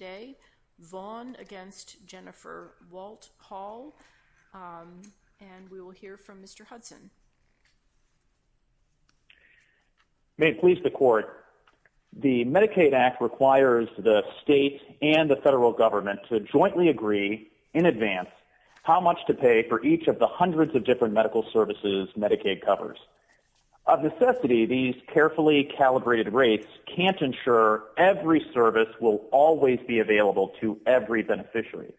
May it please the Court, the Medicaid Act requires the state and the federal government to jointly agree, in advance, how much to pay for each of the hundreds of different medical services Medicaid covers. Of necessity, these carefully calibrated rates can't ensure every service will always be available to every beneficiary.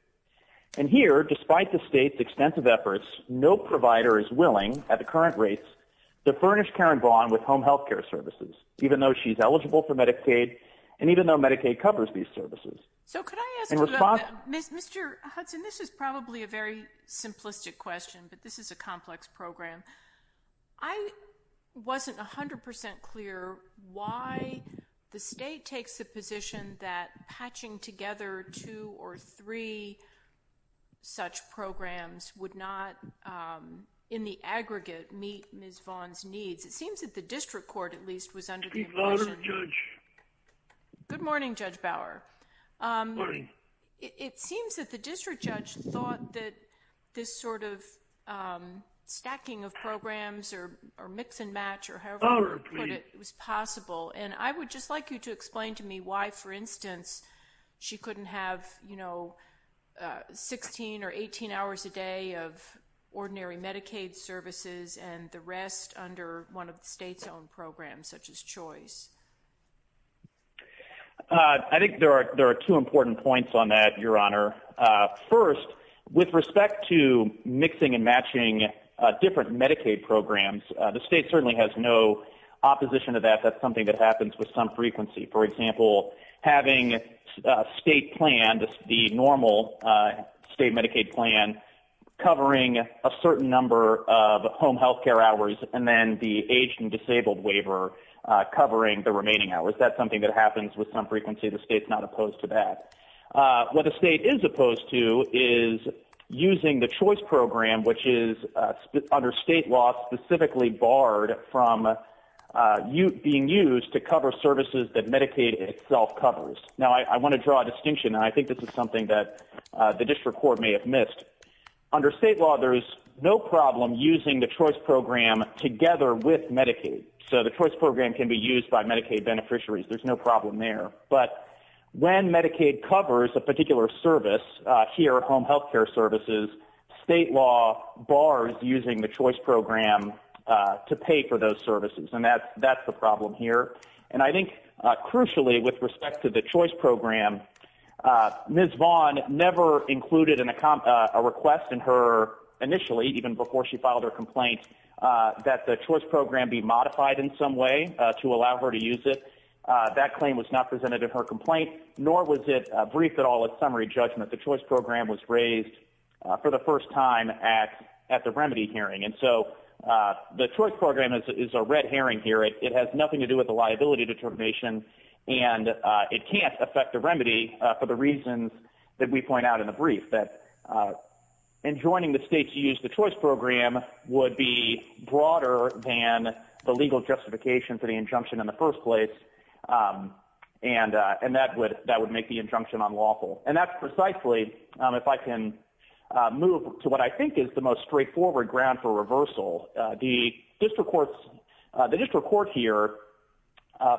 And here, despite the state's extensive efforts, no provider is willing, at the current rates, to furnish Karen Vaughn with home health care services, even though she's eligible for Medicaid, and even though Medicaid covers these services. So could I ask you about that? Mr. Hudson, this is probably a very simplistic question, but this is a complex program. I wasn't 100% clear why the state takes the position that patching together two or three such programs would not, in the aggregate, meet Ms. Vaughn's needs. It seems that the district court, at least, was under the impression. Good morning, Judge Bower. It seems that the district judge thought that this sort of stacking of programs, or mix and match, or however you put it, was possible. And I would just like you to explain to me why, for instance, she couldn't have, you know, 16 or 18 hours a day of ordinary Medicaid services, and the rest under one of the state's own programs, such as CHOICE. I think there are two important points on that, Your Honor. First, with respect to mixing and matching different Medicaid programs, the state certainly has no opposition to that. That's something that happens with some frequency. For example, having a state plan, the normal state Medicaid plan, covering a certain number of home health care hours, and then the aged and disabled waiver covering the remaining hours, that's something that happens with some frequency. The state's not opposed to that. What the state is opposed to is using the CHOICE program, which is, under state law, specifically barred from being used to cover services that Medicaid itself covers. Now, I want to draw a distinction, and I think this is something that the district court may have missed. Under state law, there is no problem using the CHOICE program together with Medicaid. So the CHOICE program can be used by Medicaid beneficiaries. There's no problem there. But when Medicaid covers a particular service, here, home health care services, state law bars using the CHOICE program to pay for those services. And that's the problem here. And I think, crucially, with respect to the CHOICE program, Ms. Vaughn never included a request in her, initially, even before she filed her complaint, that the CHOICE program be modified in some way to allow her to use it. That claim was not presented in her complaint, nor was it briefed at all at summary judgment. The CHOICE program was raised for the first time at the remedy hearing. And so, the CHOICE program is a red herring here. It has nothing to do with the liability determination, and it can't affect the remedy for the reasons that we point out in the brief, that enjoining the state to use the CHOICE program would be broader than the legal justification for the injunction in the first place, and that would make the injunction unlawful. And that's precisely, if I can move to what I think is the most straightforward ground for reversal, the district courts, the district court here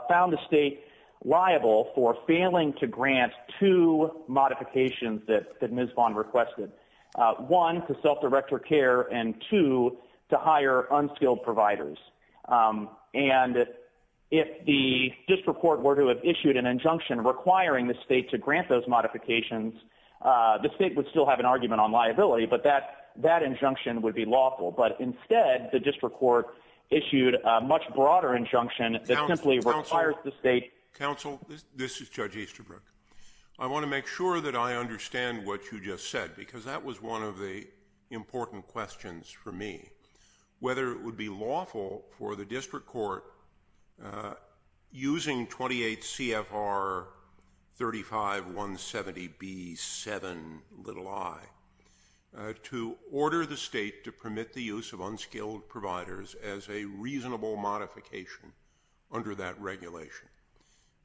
found the state liable for failing to grant two modifications that Ms. Vaughn requested. One, to self-direct her care, and two, to hire unskilled providers. And if the district court were to have issued an injunction requiring the state to grant those modifications, the state would still have an argument on liability, but that injunction would be lawful. But instead, the district court issued a much broader injunction that simply requires the state... Counsel, this is Judge Easterbrook. I want to make sure that I understand what you just said, because that was one of the important questions for me. Whether it would be lawful for the district court, using 28 CFR 35170B7i, to order the state to permit the use of unskilled providers as a reasonable modification under that regulation.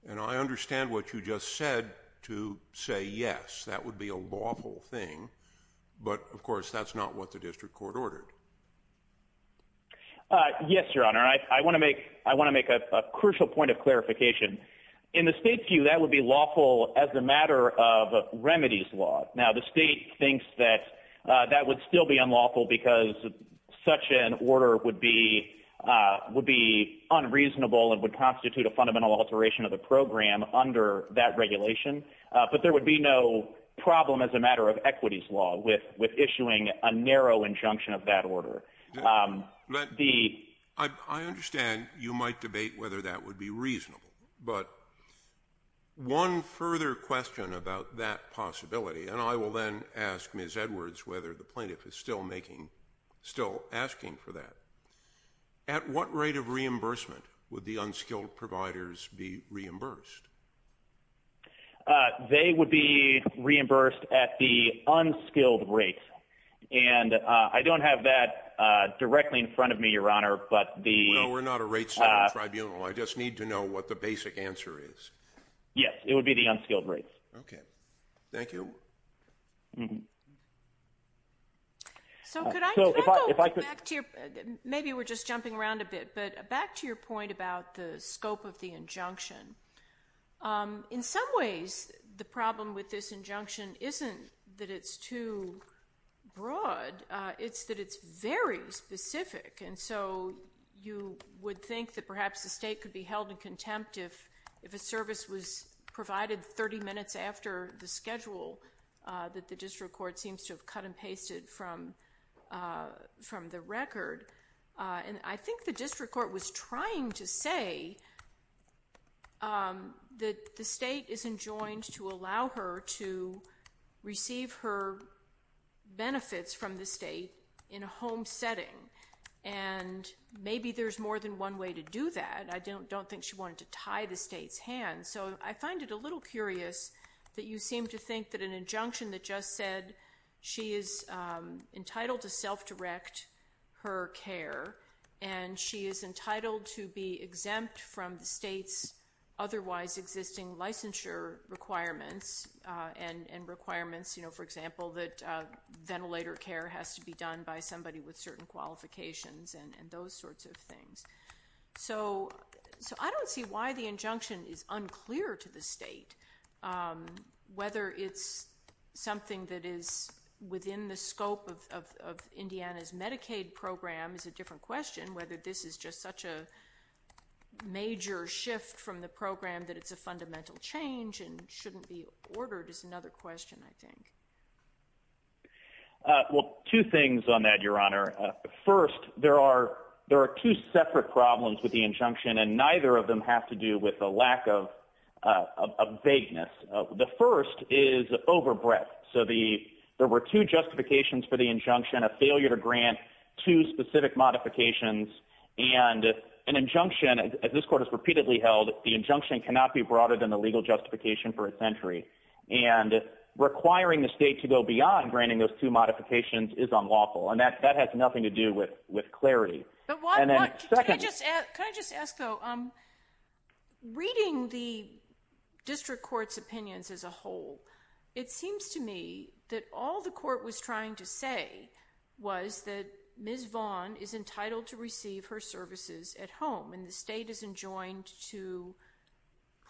And I understand what you just said, to say, yes, that would be a lawful thing, but of course, that's not what the district court ordered. Yes, Your Honor. I want to make a crucial point of clarification. In the state's view, that would be lawful as a matter of remedies law. Now, the state thinks that that would still be unlawful, because such an order would be unreasonable and would constitute a fundamental alteration of the program under that regulation. But there would be no problem as a matter of equities law, with issuing a narrow injunction of that order. I understand you might debate whether that would be reasonable, but one further question about that possibility, and I will then ask Ms. Edwards whether the plaintiff is still making, still asking for that. At what rate of reimbursement would the unskilled providers be reimbursed? They would be reimbursed at the unskilled rates. And I don't have that directly in front of me, Your Honor, but the... Well, we're not a rates tribunal. I just need to know what the basic answer is. Yes, it would be the unskilled rates. Okay. Thank you. So, could I go back to your, maybe we're just jumping around a bit, but back to your point about the scope of the injunction. In some ways, the problem with this injunction isn't that it's too broad, it's that it's very specific. And so, you would think that perhaps the state could be held in contempt if a service was provided 30 minutes after the schedule that the district court seems to have cut and pasted from the record. And I think the district court was trying to say that the state isn't joined to allow her to receive her benefits from the state in a home setting. And maybe there's more than one way to do that. I don't think she wanted to tie the state's hands. So, I find it a little curious that you seem to think that an injunction that just said she is entitled to self-direct her care and she is entitled to be exempt from the state's otherwise existing licensure requirements and requirements, for example, that ventilator care has to be done by somebody with certain qualifications and those sorts of things. So, I don't see why the injunction is unclear to the state. Whether it's something that is within the scope of Indiana's Medicaid program is a different question. Whether this is just such a major shift from the program that it's a fundamental change and shouldn't be ordered is another question, I think. Well, two things on that, Your Honor. First, there are two separate problems with the injunction and neither of them have to do with the lack of vagueness. The first is overbreadth. So, there were two justifications for the injunction, a failure to grant two specific modifications and an injunction, as this court has repeatedly held, the injunction cannot be broader than the legal justification for its entry. And requiring the state to go beyond granting those two modifications is unlawful and that has nothing to do with clarity. Can I just ask, though, reading the district court's opinions as a whole, it seems to me that all the court was trying to say was that Ms. Vaughn is entitled to receive her services at home and the state isn't joined to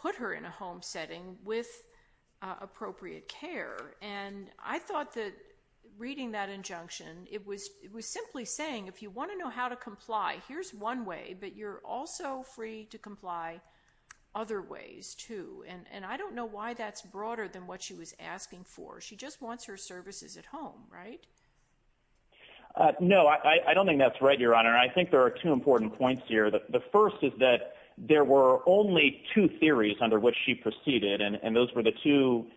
put her in a home setting with appropriate care. And I thought that reading that injunction, it was simply saying if you want to know how to comply, here's one way, but you're also free to comply other ways, too. And I don't know why that's broader than what she was asking for. She just wants her services at home, right? No, I don't think that's right, Your Honor. I think there are two important points here. The first is that there were only two theories under which she proceeded and those were the two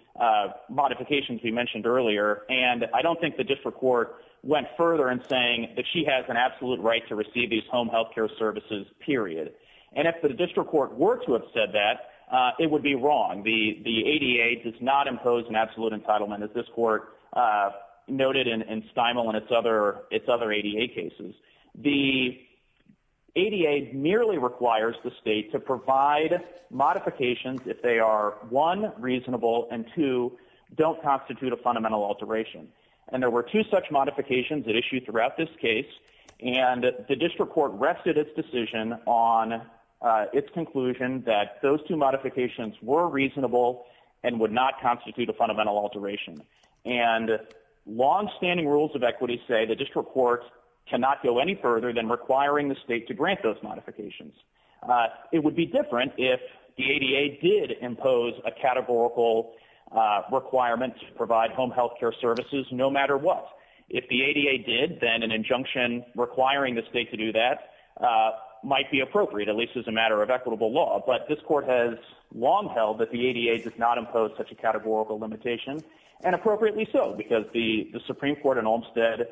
modifications we mentioned earlier. And I don't think the district court went further in saying that she has an absolute right to receive these home health care services, period. And if the district court were to have said that, it would be wrong. The ADA does not impose an absolute entitlement, as this court noted in Stimel and its other ADA cases. The ADA merely requires the state to provide modifications if they are, one, reasonable, and two, don't constitute a fundamental alteration. And there were two such modifications that were issued throughout this case, and the district court rested its decision on its conclusion that those two modifications were reasonable and would not constitute a fundamental alteration. And longstanding rules of equity say the district court cannot go any further than requiring the state to grant those modifications. It would be different if the ADA did impose a categorical requirement to provide home health care services no matter what. If the state did, then an injunction requiring the state to do that might be appropriate, at least as a matter of equitable law. But this court has long held that the ADA does not impose such a categorical limitation, and appropriately so, because the Supreme Court in Olmstead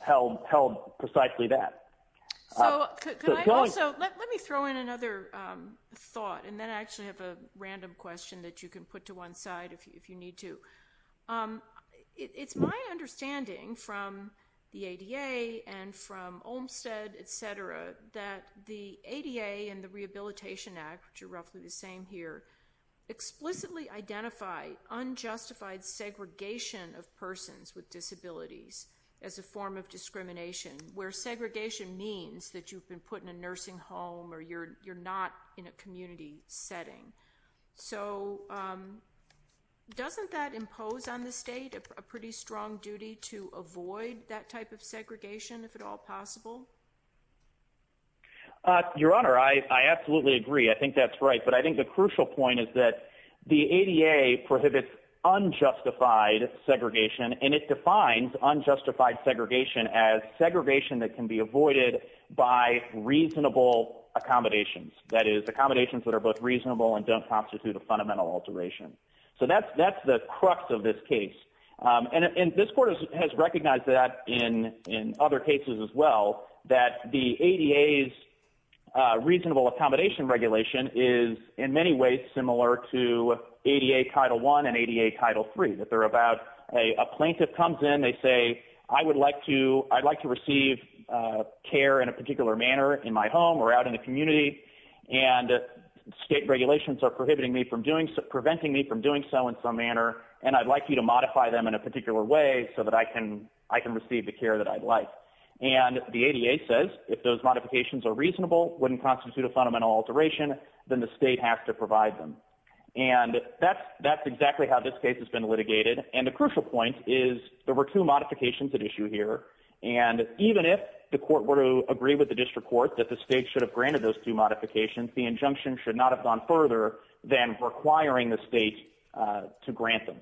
held precisely that. So, can I also, let me throw in another thought, and then I actually have a random question that you can put to one side if you need to. It's my understanding from the ADA and from Olmstead, etc., that the ADA and the Rehabilitation Act, which are roughly the same here, explicitly identify unjustified segregation of persons with disabilities as a form of discrimination, where segregation means that you've been put in a nursing home or you're not in a community setting. So, doesn't that impose on the state a pretty strong duty to avoid that type of segregation, if at all possible? Your Honor, I absolutely agree. I think that's right. But I think the crucial point is that the ADA prohibits unjustified segregation, and it defines unjustified segregation as segregation that can be avoided by reasonable accommodations. That is, accommodations that are both reasonable and don't constitute a fundamental alteration. So, that's the crux of this case. And this Court has recognized that in other cases as well, that the ADA's reasonable accommodation regulation is in many ways similar to ADA Title I and ADA Title III, that they're about, a plaintiff comes in, they say, I would like to receive care in a particular manner in my home or out in the community, and state regulations are preventing me from doing so in some manner, and I'd like you to modify them in a particular way so that I can receive the care that I'd like. And the ADA says, if those modifications are reasonable, wouldn't constitute a fundamental alteration, then the state has to provide them. And that's exactly how this case has been litigated. And the crucial point is there were two modifications at issue here, and even if the Court were to agree with the District Court that the state should have granted those two modifications, the injunction should not have gone further than requiring the state to grant them.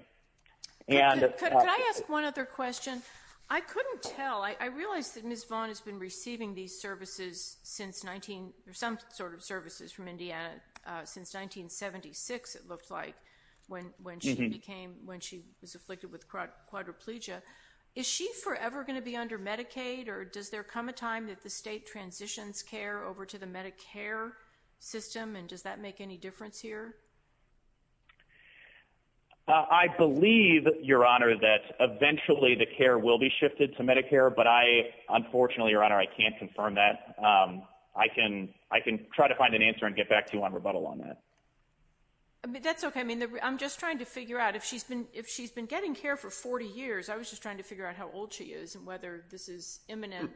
And... Could I ask one other question? I couldn't tell. I realize that Ms. Vaughn has been receiving these services since 19... some sort of services from Indiana since 1976, it looked like, when she became... when she was afflicted with quadriplegia. Is she forever going to be under Medicaid, or does there come a time that the state transitions care over to the Medicare system, and does that make any difference here? I believe, Your Honor, that eventually the care will be shifted to Medicare, but I... Unfortunately, Your Honor, I can't confirm that. I can... I can try to find an answer and get back to you on rebuttal on that. That's okay. I mean, I'm just trying to figure out if she's been... if she's been getting care for 40 years. I was just trying to figure out how old she is and whether this is imminent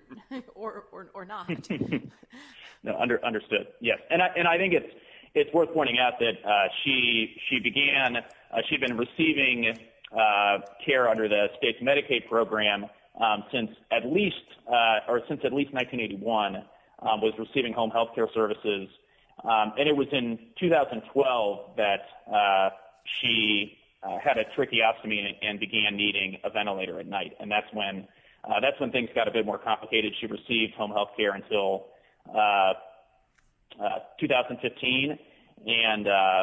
or not. No, understood. Yes. And I think it's worth pointing out that she began... she'd been receiving care under the state's Medicaid program since at least... or since at least 1981, was receiving home health care services. And it was in 2012 that she had a tracheostomy and began needing a ventilator at night. And that's when... that's when things got a bit more complicated. She received home health care until 2015, and the...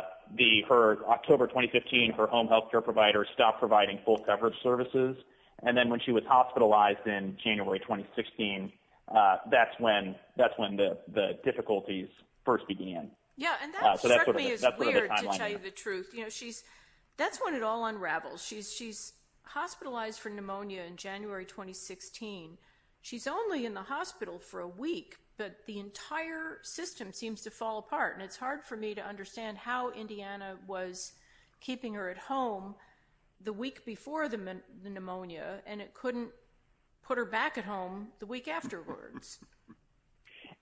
for October 2015, her home health care provider stopped providing full coverage services. And then when she was hospitalized in January 2016, that's when... that's when the difficulties first began. Yeah, and that struck me as weird, to tell you the truth. You know, she's... that's when it all unravels. She's hospitalized for pneumonia in January 2016. She's only in the hospital for a week, but the entire system seems to fall apart. And it's hard for me to understand how Indiana was keeping her at home the week before the pneumonia, and it couldn't put her back at home the week afterwards.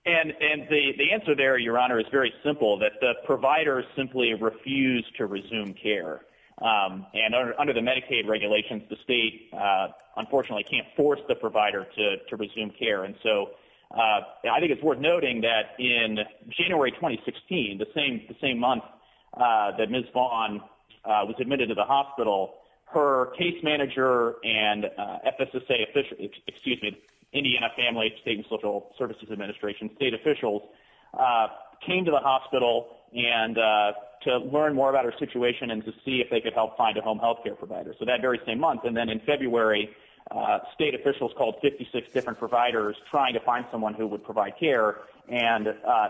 And the answer there, Your Honor, is very simple, that the provider simply refused to provide care. And under the Medicaid regulations, the state, unfortunately, can't force the provider to resume care. And so, I think it's worth noting that in January 2016, the same month that Ms. Vaughn was admitted to the hospital, her case manager and FSSA official... excuse me, Indiana Family, State, and Social Services Administration, state officials came to the hospital to learn more about her situation and to see if they could help find a home health care provider. So that very same month. And then in February, state officials called 56 different providers trying to find someone who would provide care, and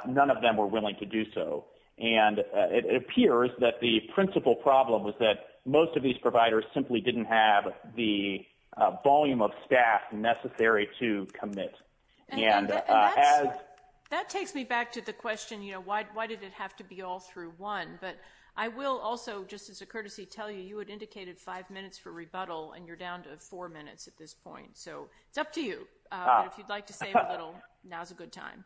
none of them were willing to do so. And it appears that the principal problem was that most of these providers simply didn't have the volume of staff necessary to commit. And that takes me back to the question, you know, why did it have to be all through one? But I will also, just as a courtesy, tell you, you had indicated five minutes for rebuttal, and you're down to four minutes at this point. So it's up to you. If you'd like to save a little, now's a good time.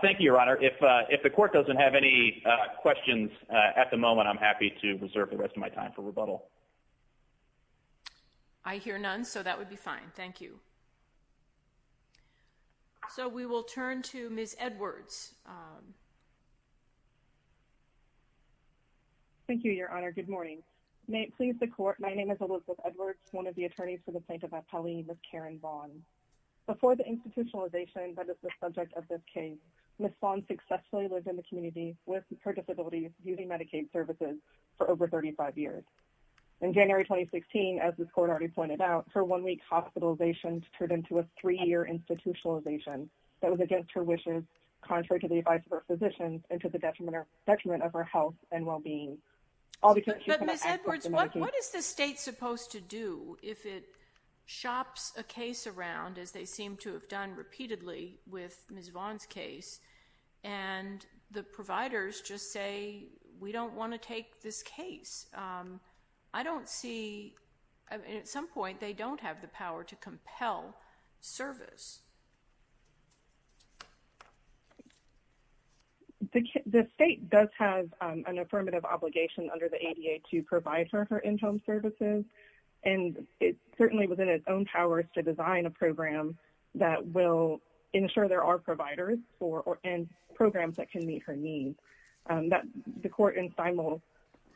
Thank you, Your Honor. If the court doesn't have any questions at the moment, I'm happy to reserve the rest of my time for rebuttal. I hear none, so that would be fine. Thank you. So we will turn to Ms. Edwards. Thank you, Your Honor. Good morning. May it please the court, my name is Elizabeth Edwards, one of the attorneys for the plaintiff at Pauley, Ms. Karen Vaughn. Before the institutionalization that is the subject of this case, Ms. Vaughn successfully lived in the community with her disabilities using Medicaid services for over 35 years. In January 2016, as the court already pointed out, her one-week hospitalization turned into a three-year institutionalization that was against her wishes, contrary to the advice of her physicians, and to the detriment of her health and well-being. But Ms. Edwards, what is the state supposed to do if it shops a case around, as they seem to have done repeatedly with Ms. Vaughn's case, and the providers just say, we don't want to take this case? I don't see, at some point, they don't have the power to compel service. The state does have an affirmative obligation under the ADA to provide for her in-home services, and it certainly was in its own powers to design a program that will ensure there are providers and programs that can meet her needs. The court in Steinmull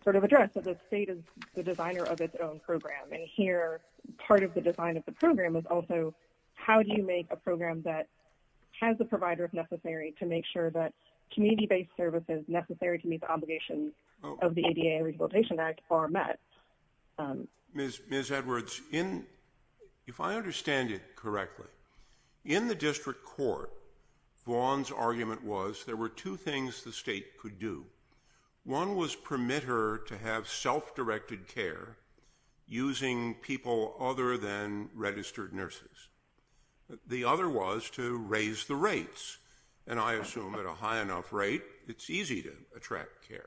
sort of addressed that the state is the designer of its own program, and here, part of the design of the program is also, how do you make a program that has the provider, if necessary, to make sure that community-based services necessary to meet the obligations of the ADA Rehabilitation Act are met? Ms. Edwards, if I understand it correctly, in the district court, Vaughn's argument was there were two things the state could do. One was permit her to have self-directed care using people other than registered nurses. The other was to raise the rates, and I assume at a high enough rate, it's easy to attract care.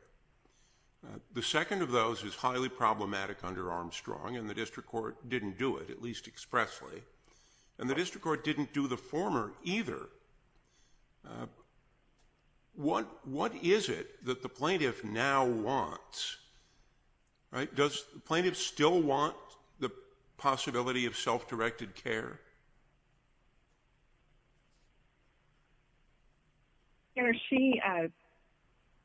The second of those is highly problematic under Armstrong, and the district court didn't do it, at least expressly, and the district court didn't do the former either. What is it that the plaintiff now wants? Does the plaintiff still want the possibility of self-directed care?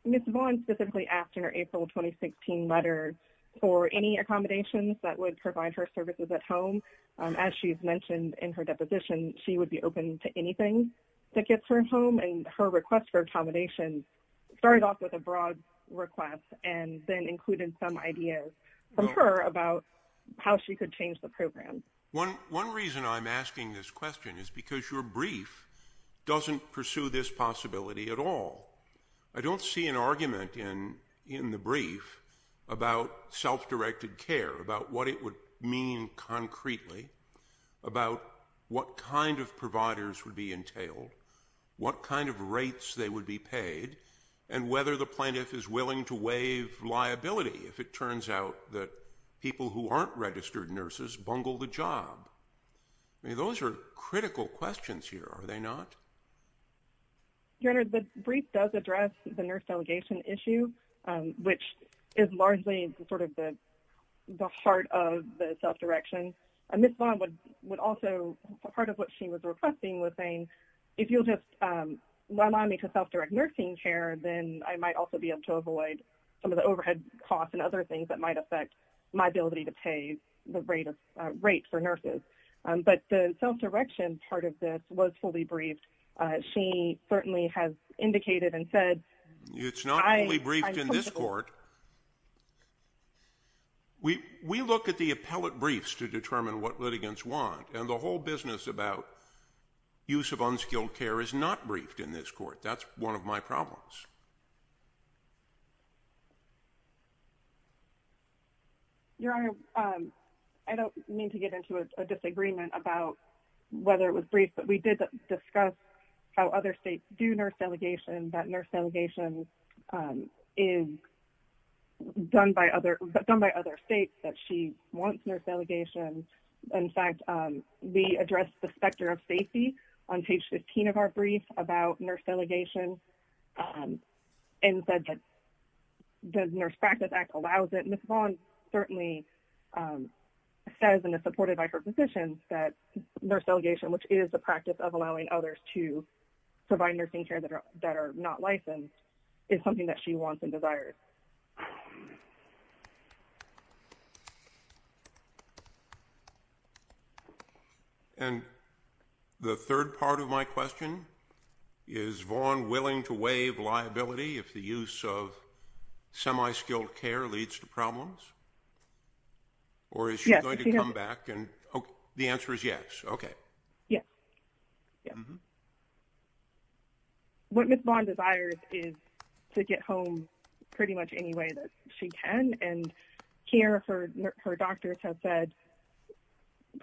Ms. Vaughn specifically asked in her April 2016 letter for any accommodations that would provide her services at home. As she's mentioned in her deposition, she would be open to anything that gets her home, and her request for accommodations started off with a broad request and then included some ideas from her about how she could change the program. One reason I'm asking this question is because your brief doesn't pursue this possibility at all. I don't see an argument in the brief about self-directed care, about what it would mean concretely, about what kind of providers would be entailed, what kind of rates they would be paid, and whether the plaintiff is willing to waive liability if it turns out that people who aren't registered nurses bungle the job. I mean, those are critical questions here, are they not? Your Honor, the brief does address the nurse delegation issue, which is largely sort of the heart of the self-direction, and Ms. Vaughn would also, part of what she was requesting was saying, if you'll just allow me to self-direct nursing care, then I might also be able to pay the rate for nurses. But the self-direction part of this was fully briefed. She certainly has indicated and said... It's not only briefed in this court. We look at the appellate briefs to determine what litigants want, and the whole business about use of unskilled care is not briefed in this Your Honor, I don't mean to get into a disagreement about whether it was briefed, but we did discuss how other states do nurse delegation, that nurse delegation is done by other states, that she wants nurse delegation. In fact, we addressed the specter of safety on page 15 of our brief about nurse delegation, and said that the Nurse Practice Act allows it. Ms. Vaughn certainly says, and is supported by her position, that nurse delegation, which is the practice of allowing others to provide nursing care that are not licensed, is something that she wants and desires. And the third part of my question, is Vaughn willing to waive liability if the use of semi-skilled care leads to problems? Or is she going to come back and... The answer is yes. Okay. Yes. Yes. What Ms. Vaughn desires is to get home pretty much any way that she can, and here, her doctors have said,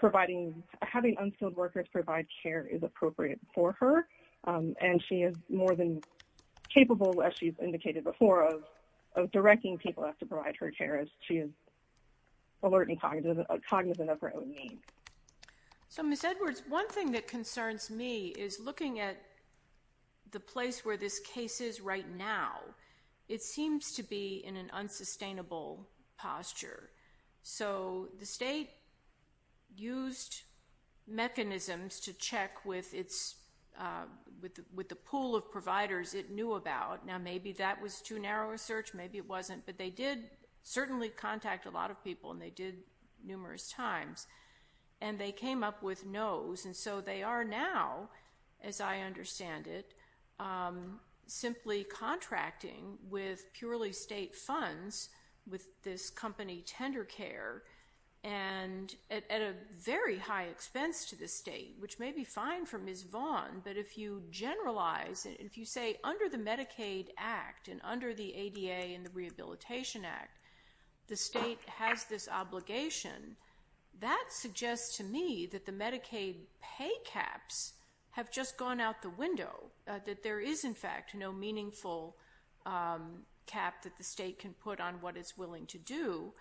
having unskilled workers provide care is appropriate for her, and she is more than capable, as she's indicated before, of directing people to provide her care, as she is alert and cognizant of her own needs. So, Ms. Edwards, one thing that concerns me is looking at the place where this case is right now. It seems to be in an unsustainable posture. So, the state used mechanisms to check with the pool of providers it knew about. Now, maybe that was too narrow a search, maybe it wasn't, but they did certainly contact a lot of people, and they did numerous times, and they came up with no's, and so they are now, as I understand it, simply contracting with purely state funds, with this company, Tender Care, and at a very high expense to the state, which may be fine for Ms. Vaughn, but if you generalize, if you say, under the Medicaid Rehabilitation Act, the state has this obligation, that suggests to me that the Medicaid pay caps have just gone out the window, that there is, in fact, no meaningful cap that the state can put on what it's willing to do,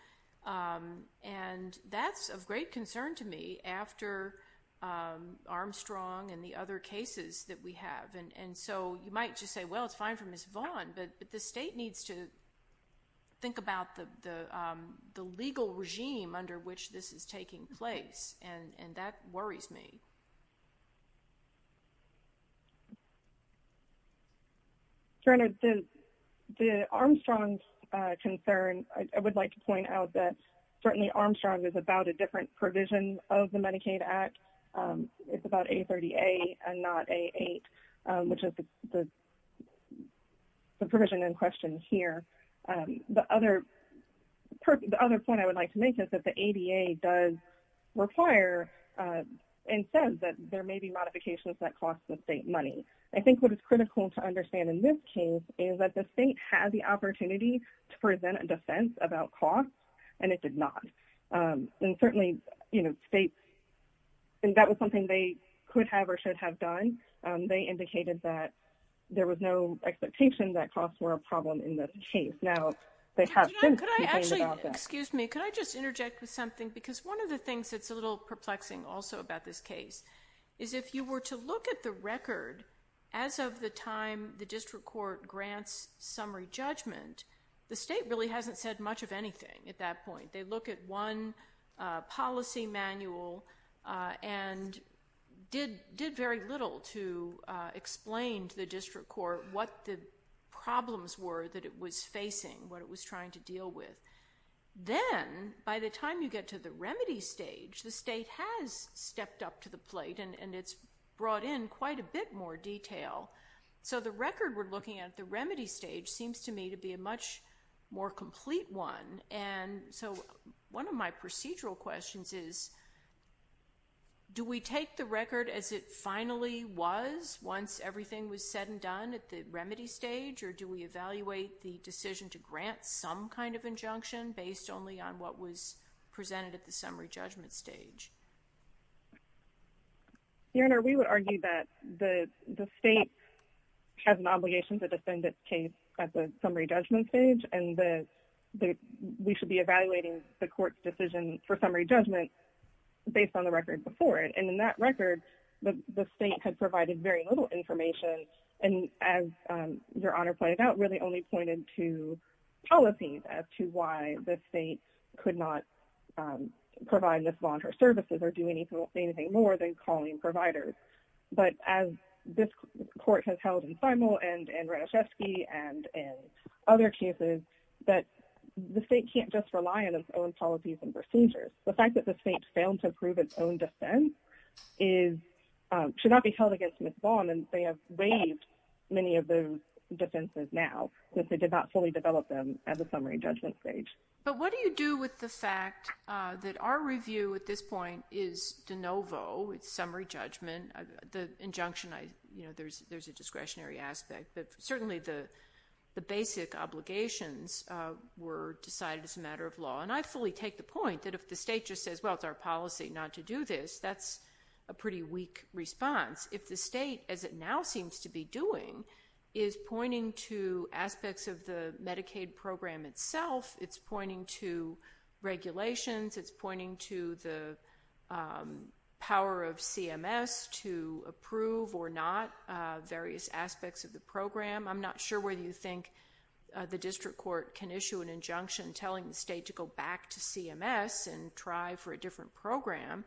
and that's of great concern to me, after Armstrong and the other cases that we have, and so you might just say, well, it's the state needs to think about the legal regime under which this is taking place, and that worries me. Brenda, the Armstrong concern, I would like to point out that certainly Armstrong is about a different provision of the Medicaid Act, it's about A30A and not A8, which is the provision in question here. The other point I would like to make is that the ADA does require, and says that there may be modifications that cost the state money. I think what is critical to understand in this case is that the state has the opportunity to present a defense about costs, and it did not, and certainly states, and that was something they could have or should have done, they indicated that there was no expectation that there was a problem in this case. Now, they have been complaining about that. Excuse me, could I just interject with something, because one of the things that's a little perplexing also about this case is if you were to look at the record as of the time the district court grants summary judgment, the state really hasn't said much of anything at that point. They look at one policy manual and did very little to explain to the district court what the problems were that it was facing, what it was trying to deal with. Then, by the time you get to the remedy stage, the state has stepped up to the plate, and it's brought in quite a bit more detail. So the record we're looking at at the remedy stage seems to me to be a much more complete one, and so one of my procedural questions is, do we take the record as it finally was once everything was said and done at the remedy stage, or do we evaluate the decision to grant some kind of injunction based only on what was presented at the summary judgment stage? Your Honor, we would argue that the state has an obligation to defend its case at the summary judgment stage, and we should be evaluating the court's decision for summary judgment based on the record before it. In that record, the state had provided very little information, and as Your Honor pointed out, really only pointed to policies as to why the state could not provide mislauncher services or do anything more than calling providers. But as this court has held in Simel and in Radishvili and in other cases, the state can't just rely on its own policies and procedures. The fact that the state failed to prove its own defense should not be held against Ms. Vaughn, and they have waived many of those defenses now since they did not fully develop them at the summary judgment stage. But what do you do with the fact that our review at this point is de novo, it's summary judgment, the injunction, there's a discretionary aspect, but certainly the basic obligations were decided as a matter of law. And I fully take the point that if the state just says, well, it's our policy not to do this, that's a pretty weak response. If the state, as it now seems to be doing, is pointing to aspects of the Medicaid program itself, it's pointing to regulations, it's pointing to the power of CMS to approve or not various aspects of the program. I'm not sure whether you think the district court can issue an injunction telling the state to go back to CMS and try for a different program,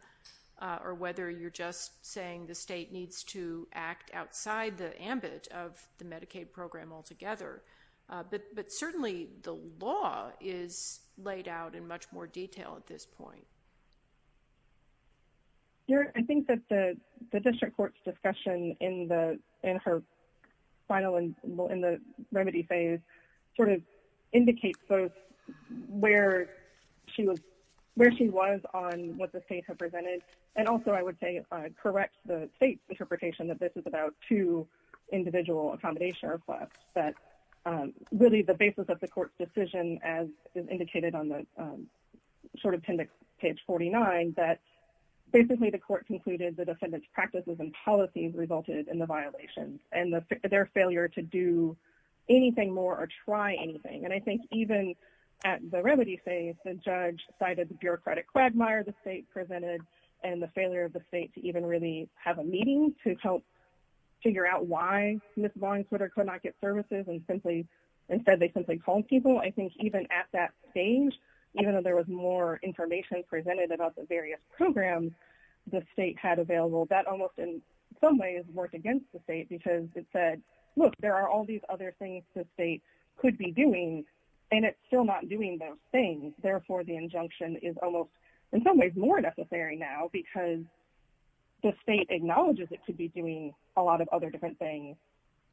or whether you're just saying the state needs to act outside the ambit of the Medicaid program altogether. But certainly the law is laid out in much more detail at this point. I think that the district court's discussion in her final remedy phase sort of indicates both where she was on what the state had presented, and also I would say correct the state's interpretation that this is about two individual accommodation requests, that really the basis of the court's decision, as indicated on the short appendix, page 49, that basically the court concluded the defendant's practices and policies resulted in the violations, and their failure to do anything more or try anything. And I think even at the remedy phase, the judge cited the bureaucratic quagmire the state presented, and the failure of the state to even really have a meeting to help figure out why Ms. Vaughn could or could not get services, and instead they simply called people. I think even at that stage, even though there was more information presented about the various programs the state had available, that almost in some ways worked against the state, because it said, look, there are all these other things the state could be doing, and it's still not doing those things. Therefore, the injunction is almost in some ways more necessary now, because the state acknowledges it could be doing a lot of other different things,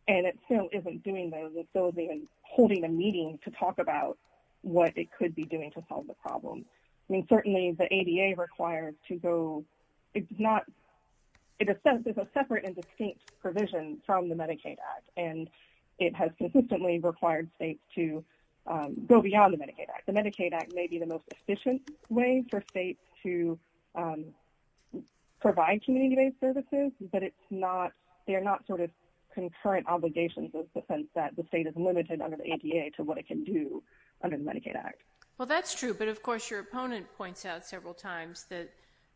and it still isn't doing those, and still isn't holding a meeting to talk about what it could be doing to solve the problem. I mean, certainly the ADA requires to go, it does not, it is a separate and distinct provision from the Medicaid Act, and it has consistently required states to go beyond the Medicaid Act. The Medicaid Act may be the most efficient way for states to provide community-based services, but it's not, they are not sort of concurrent obligations in the sense that the state is limited under the ADA to what it can do under the Medicaid Act. Well, that's true, but of course, your opponent points out several times that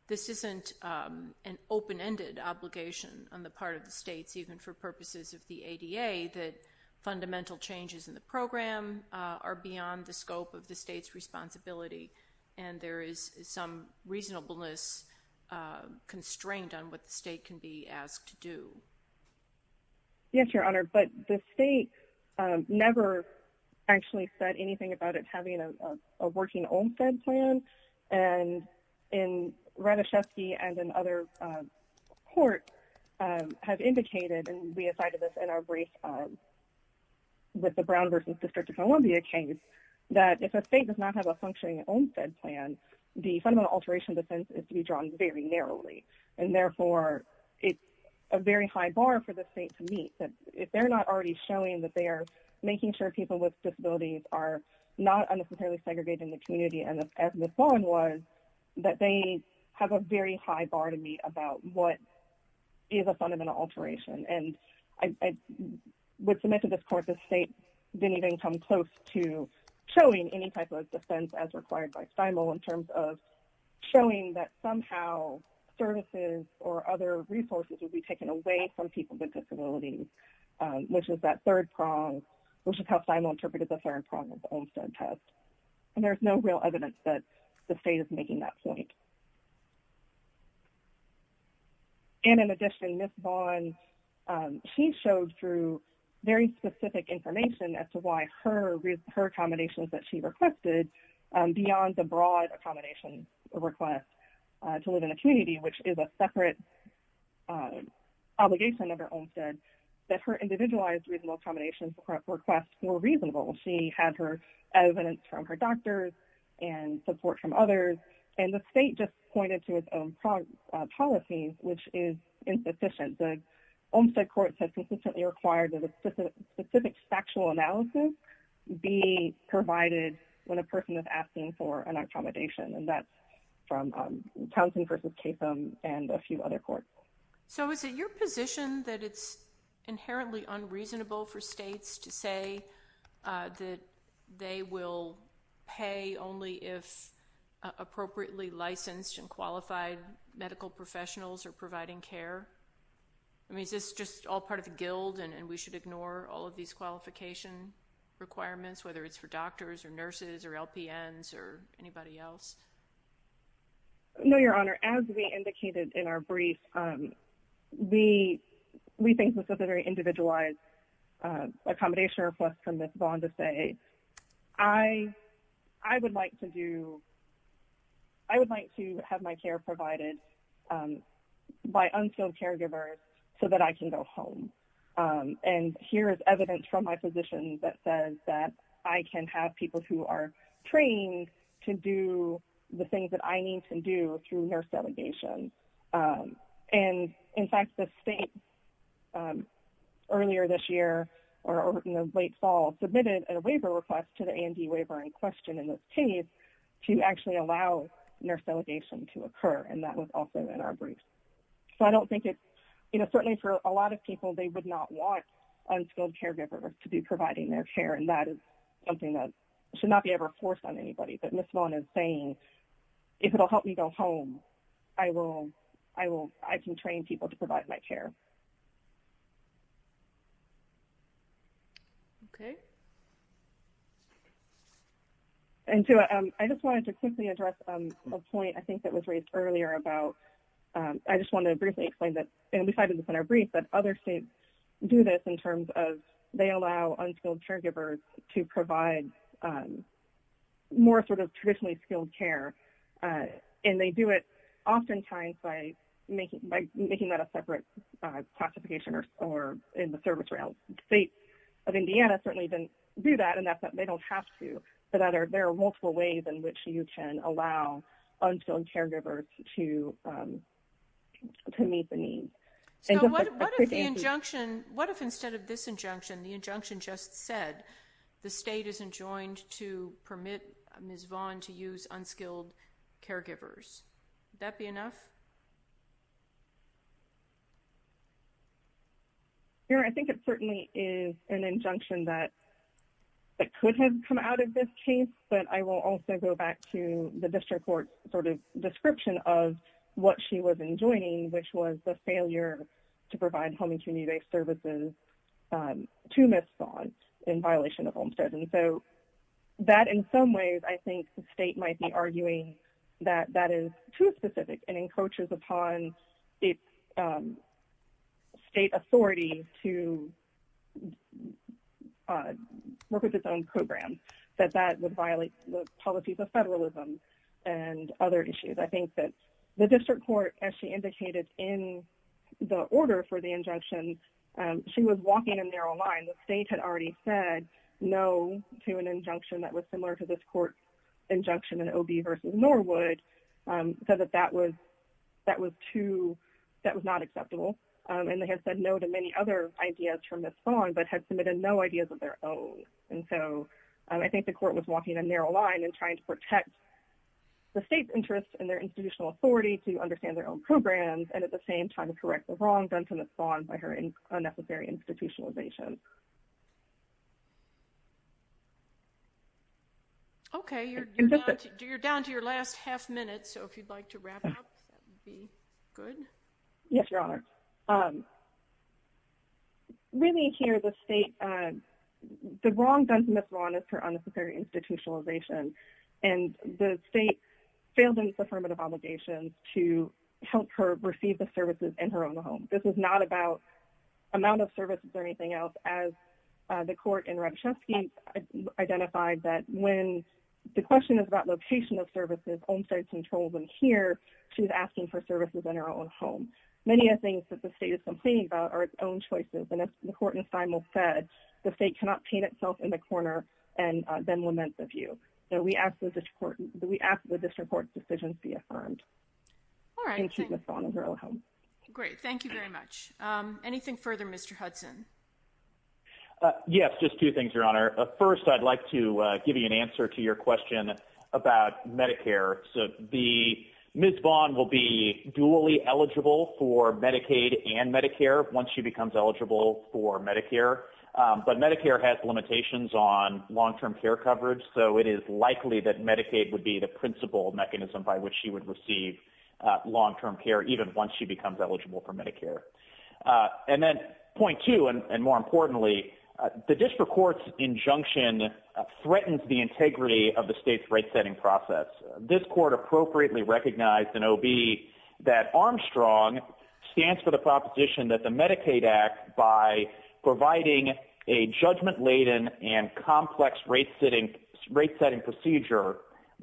this isn't an open-ended obligation on the part of the states, even for purposes of the ADA, that is beyond the scope of the state's responsibility, and there is some reasonableness constrained on what the state can be asked to do. Yes, Your Honor, but the state never actually said anything about it having a working OMFED plan, and in Ratajkowski and in other courts have indicated, and we cited this in our brief with the Brown vs. District of Columbia case, that if a state does not have a functioning OMFED plan, the fundamental alteration defense is to be drawn very narrowly, and therefore it's a very high bar for the state to meet, that if they're not already showing that they are making sure people with disabilities are not unnecessarily segregated in the community as Ms. Vaughn was, that they have a very high bar to meet about what is a fundamental alteration, and I would submit to this court that the state didn't even come close to showing any type of defense as required by Stimel in terms of showing that somehow services or other resources would be taken away from people with disabilities, which is that third prong, which is how Stimel interpreted the third prong of the OMFED test, and there's no real evidence that the state is making that point. And in addition, Ms. Vaughn, she showed through very specific information as to why her accommodations that she requested beyond the broad accommodation request to live in a community, which is a separate obligation under OMFED, that her individualized reasonable accommodations requests were reasonable. She had her evidence from her doctors and support from others, and the state just pointed to its own policies, which is insufficient. The OMFED courts have consistently required that a specific factual analysis be provided when a person is asking for an accommodation, and that's from Townsend v. Capum and a few other courts. So is it your position that it's inherently unreasonable for states to say that they will pay only if appropriately licensed and qualified medical professionals are providing care? I mean, is this just all part of the guild and we should ignore all of these qualification requirements, whether it's for doctors or nurses or LPNs or anybody else? No, Your Honor. As we indicated in our brief, we think this is a very individualized accommodation request from Ms. Vaughn to say, I would like to have my care provided by unskilled caregivers so that I can go home. And here is evidence from my physician that says that I can have people who are trained to do the things that I need to do through nurse delegation. And in fact, the state earlier this year or in the late fall submitted a waiver request to the A&D waiver in question in this case to actually allow nurse delegation to occur, and that was also in our brief. So I don't think it's, you know, certainly for a lot of people, they would not want unskilled caregivers to be providing their care, and that is something that should not be ever forced on anybody. But Ms. Vaughn is saying, if it will help me go home, I can train people to provide my care. Okay. And so I just wanted to quickly address a point I think that was raised earlier about I just wanted to briefly explain that, and we cited this in our brief, that other states do this in terms of they allow unskilled caregivers to provide more sort of traditionally skilled care, and they do it oftentimes by making that a separate classification or in the service realm. States of Indiana certainly do that, and they don't have to. But there are multiple ways in which you can allow unskilled caregivers to meet the need. So what if the injunction, what if instead of this injunction, the injunction just said the state isn't joined to permit Ms. Vaughn to use unskilled caregivers? Would that be enough? I think it certainly is an injunction that could have come out of this case, but I will also go back to the district court sort of description of what she was enjoining, which was the failure to provide home and community-based services to Ms. Vaughn in violation of Homestead. And so that in some ways I think the state might be arguing that that is too specific and encroaches upon its state authority to work with its own program, that that would violate the policies of federalism and other issues. I think that the district court, as she indicated in the order for the injunction, she was walking a narrow line. The state had already said no to an injunction that was similar to this court's injunction in OB versus Norwood, said that that was too, that was not acceptable. And they had said no to many other ideas from Ms. Vaughn, but had submitted no ideas of their own. And so I think the court was walking a narrow line in trying to protect the state's interests and their institutional authority to understand their own programs, and at the same time, correct the wrong done to Ms. Vaughn by her unnecessary institutionalization. Okay. You're down to your last half minute, so if you'd like to wrap up, that would be good. Yes, Your Honor. Really here, the state, the wrong done to Ms. Vaughn is her unnecessary institutionalization. And the state failed in its affirmative obligations to help her receive the services in her own home. This is not about amount of services or anything else, as the court in Radishevsky identified that when the question is about location of services, Olmstead controls them here, she's asking for services in her own home. Many of the things that the state is complaining about are its own choices, and as the court said, the state cannot paint itself in the corner and then lament the view. So we ask that this court decision be affirmed. All right. Great. Thank you very much. Anything further, Mr. Hudson? Yes, just two things, Your Honor. First, I'd like to give you an answer to your question about Medicare. So Ms. Vaughn will be dually eligible for Medicaid and Medicare once she becomes eligible for Medicare, but Medicare has limitations on long-term care coverage, so it is likely that Medicaid would be the principle mechanism by which she would receive long-term care even once she becomes eligible for Medicare. And then point two, and more importantly, the district court's injunction threatens the integrity of the state's rate-setting process. This court appropriately recognized in OB that Armstrong stands for the proposition that the Medicaid Act, by providing a judgment-laden and complex rate-setting procedure,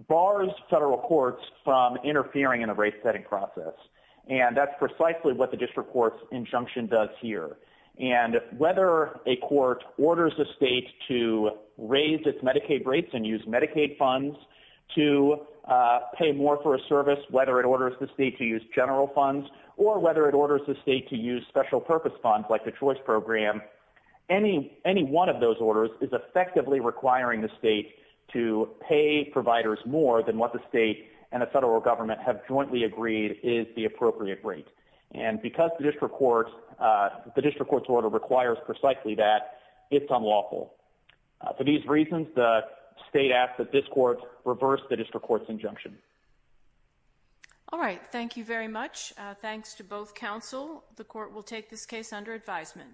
bars federal courts from interfering in the rate-setting process. And that's precisely what the district court's injunction does here. And whether a court orders the state to raise its Medicaid rates and use Medicaid funds to pay more for a service, whether it orders the state to use general funds, or whether it orders the state to use special purpose funds like the Choice Program, any one of those orders is effectively requiring the state to pay providers more than what the state and the federal government have jointly agreed is the appropriate rate. And because the district court's order requires precisely that, it's unlawful. For these reasons, the state asks that this court reverse the district court's injunction. All right, thank you very much. Thanks to both counsel. The court will take this case under advisement.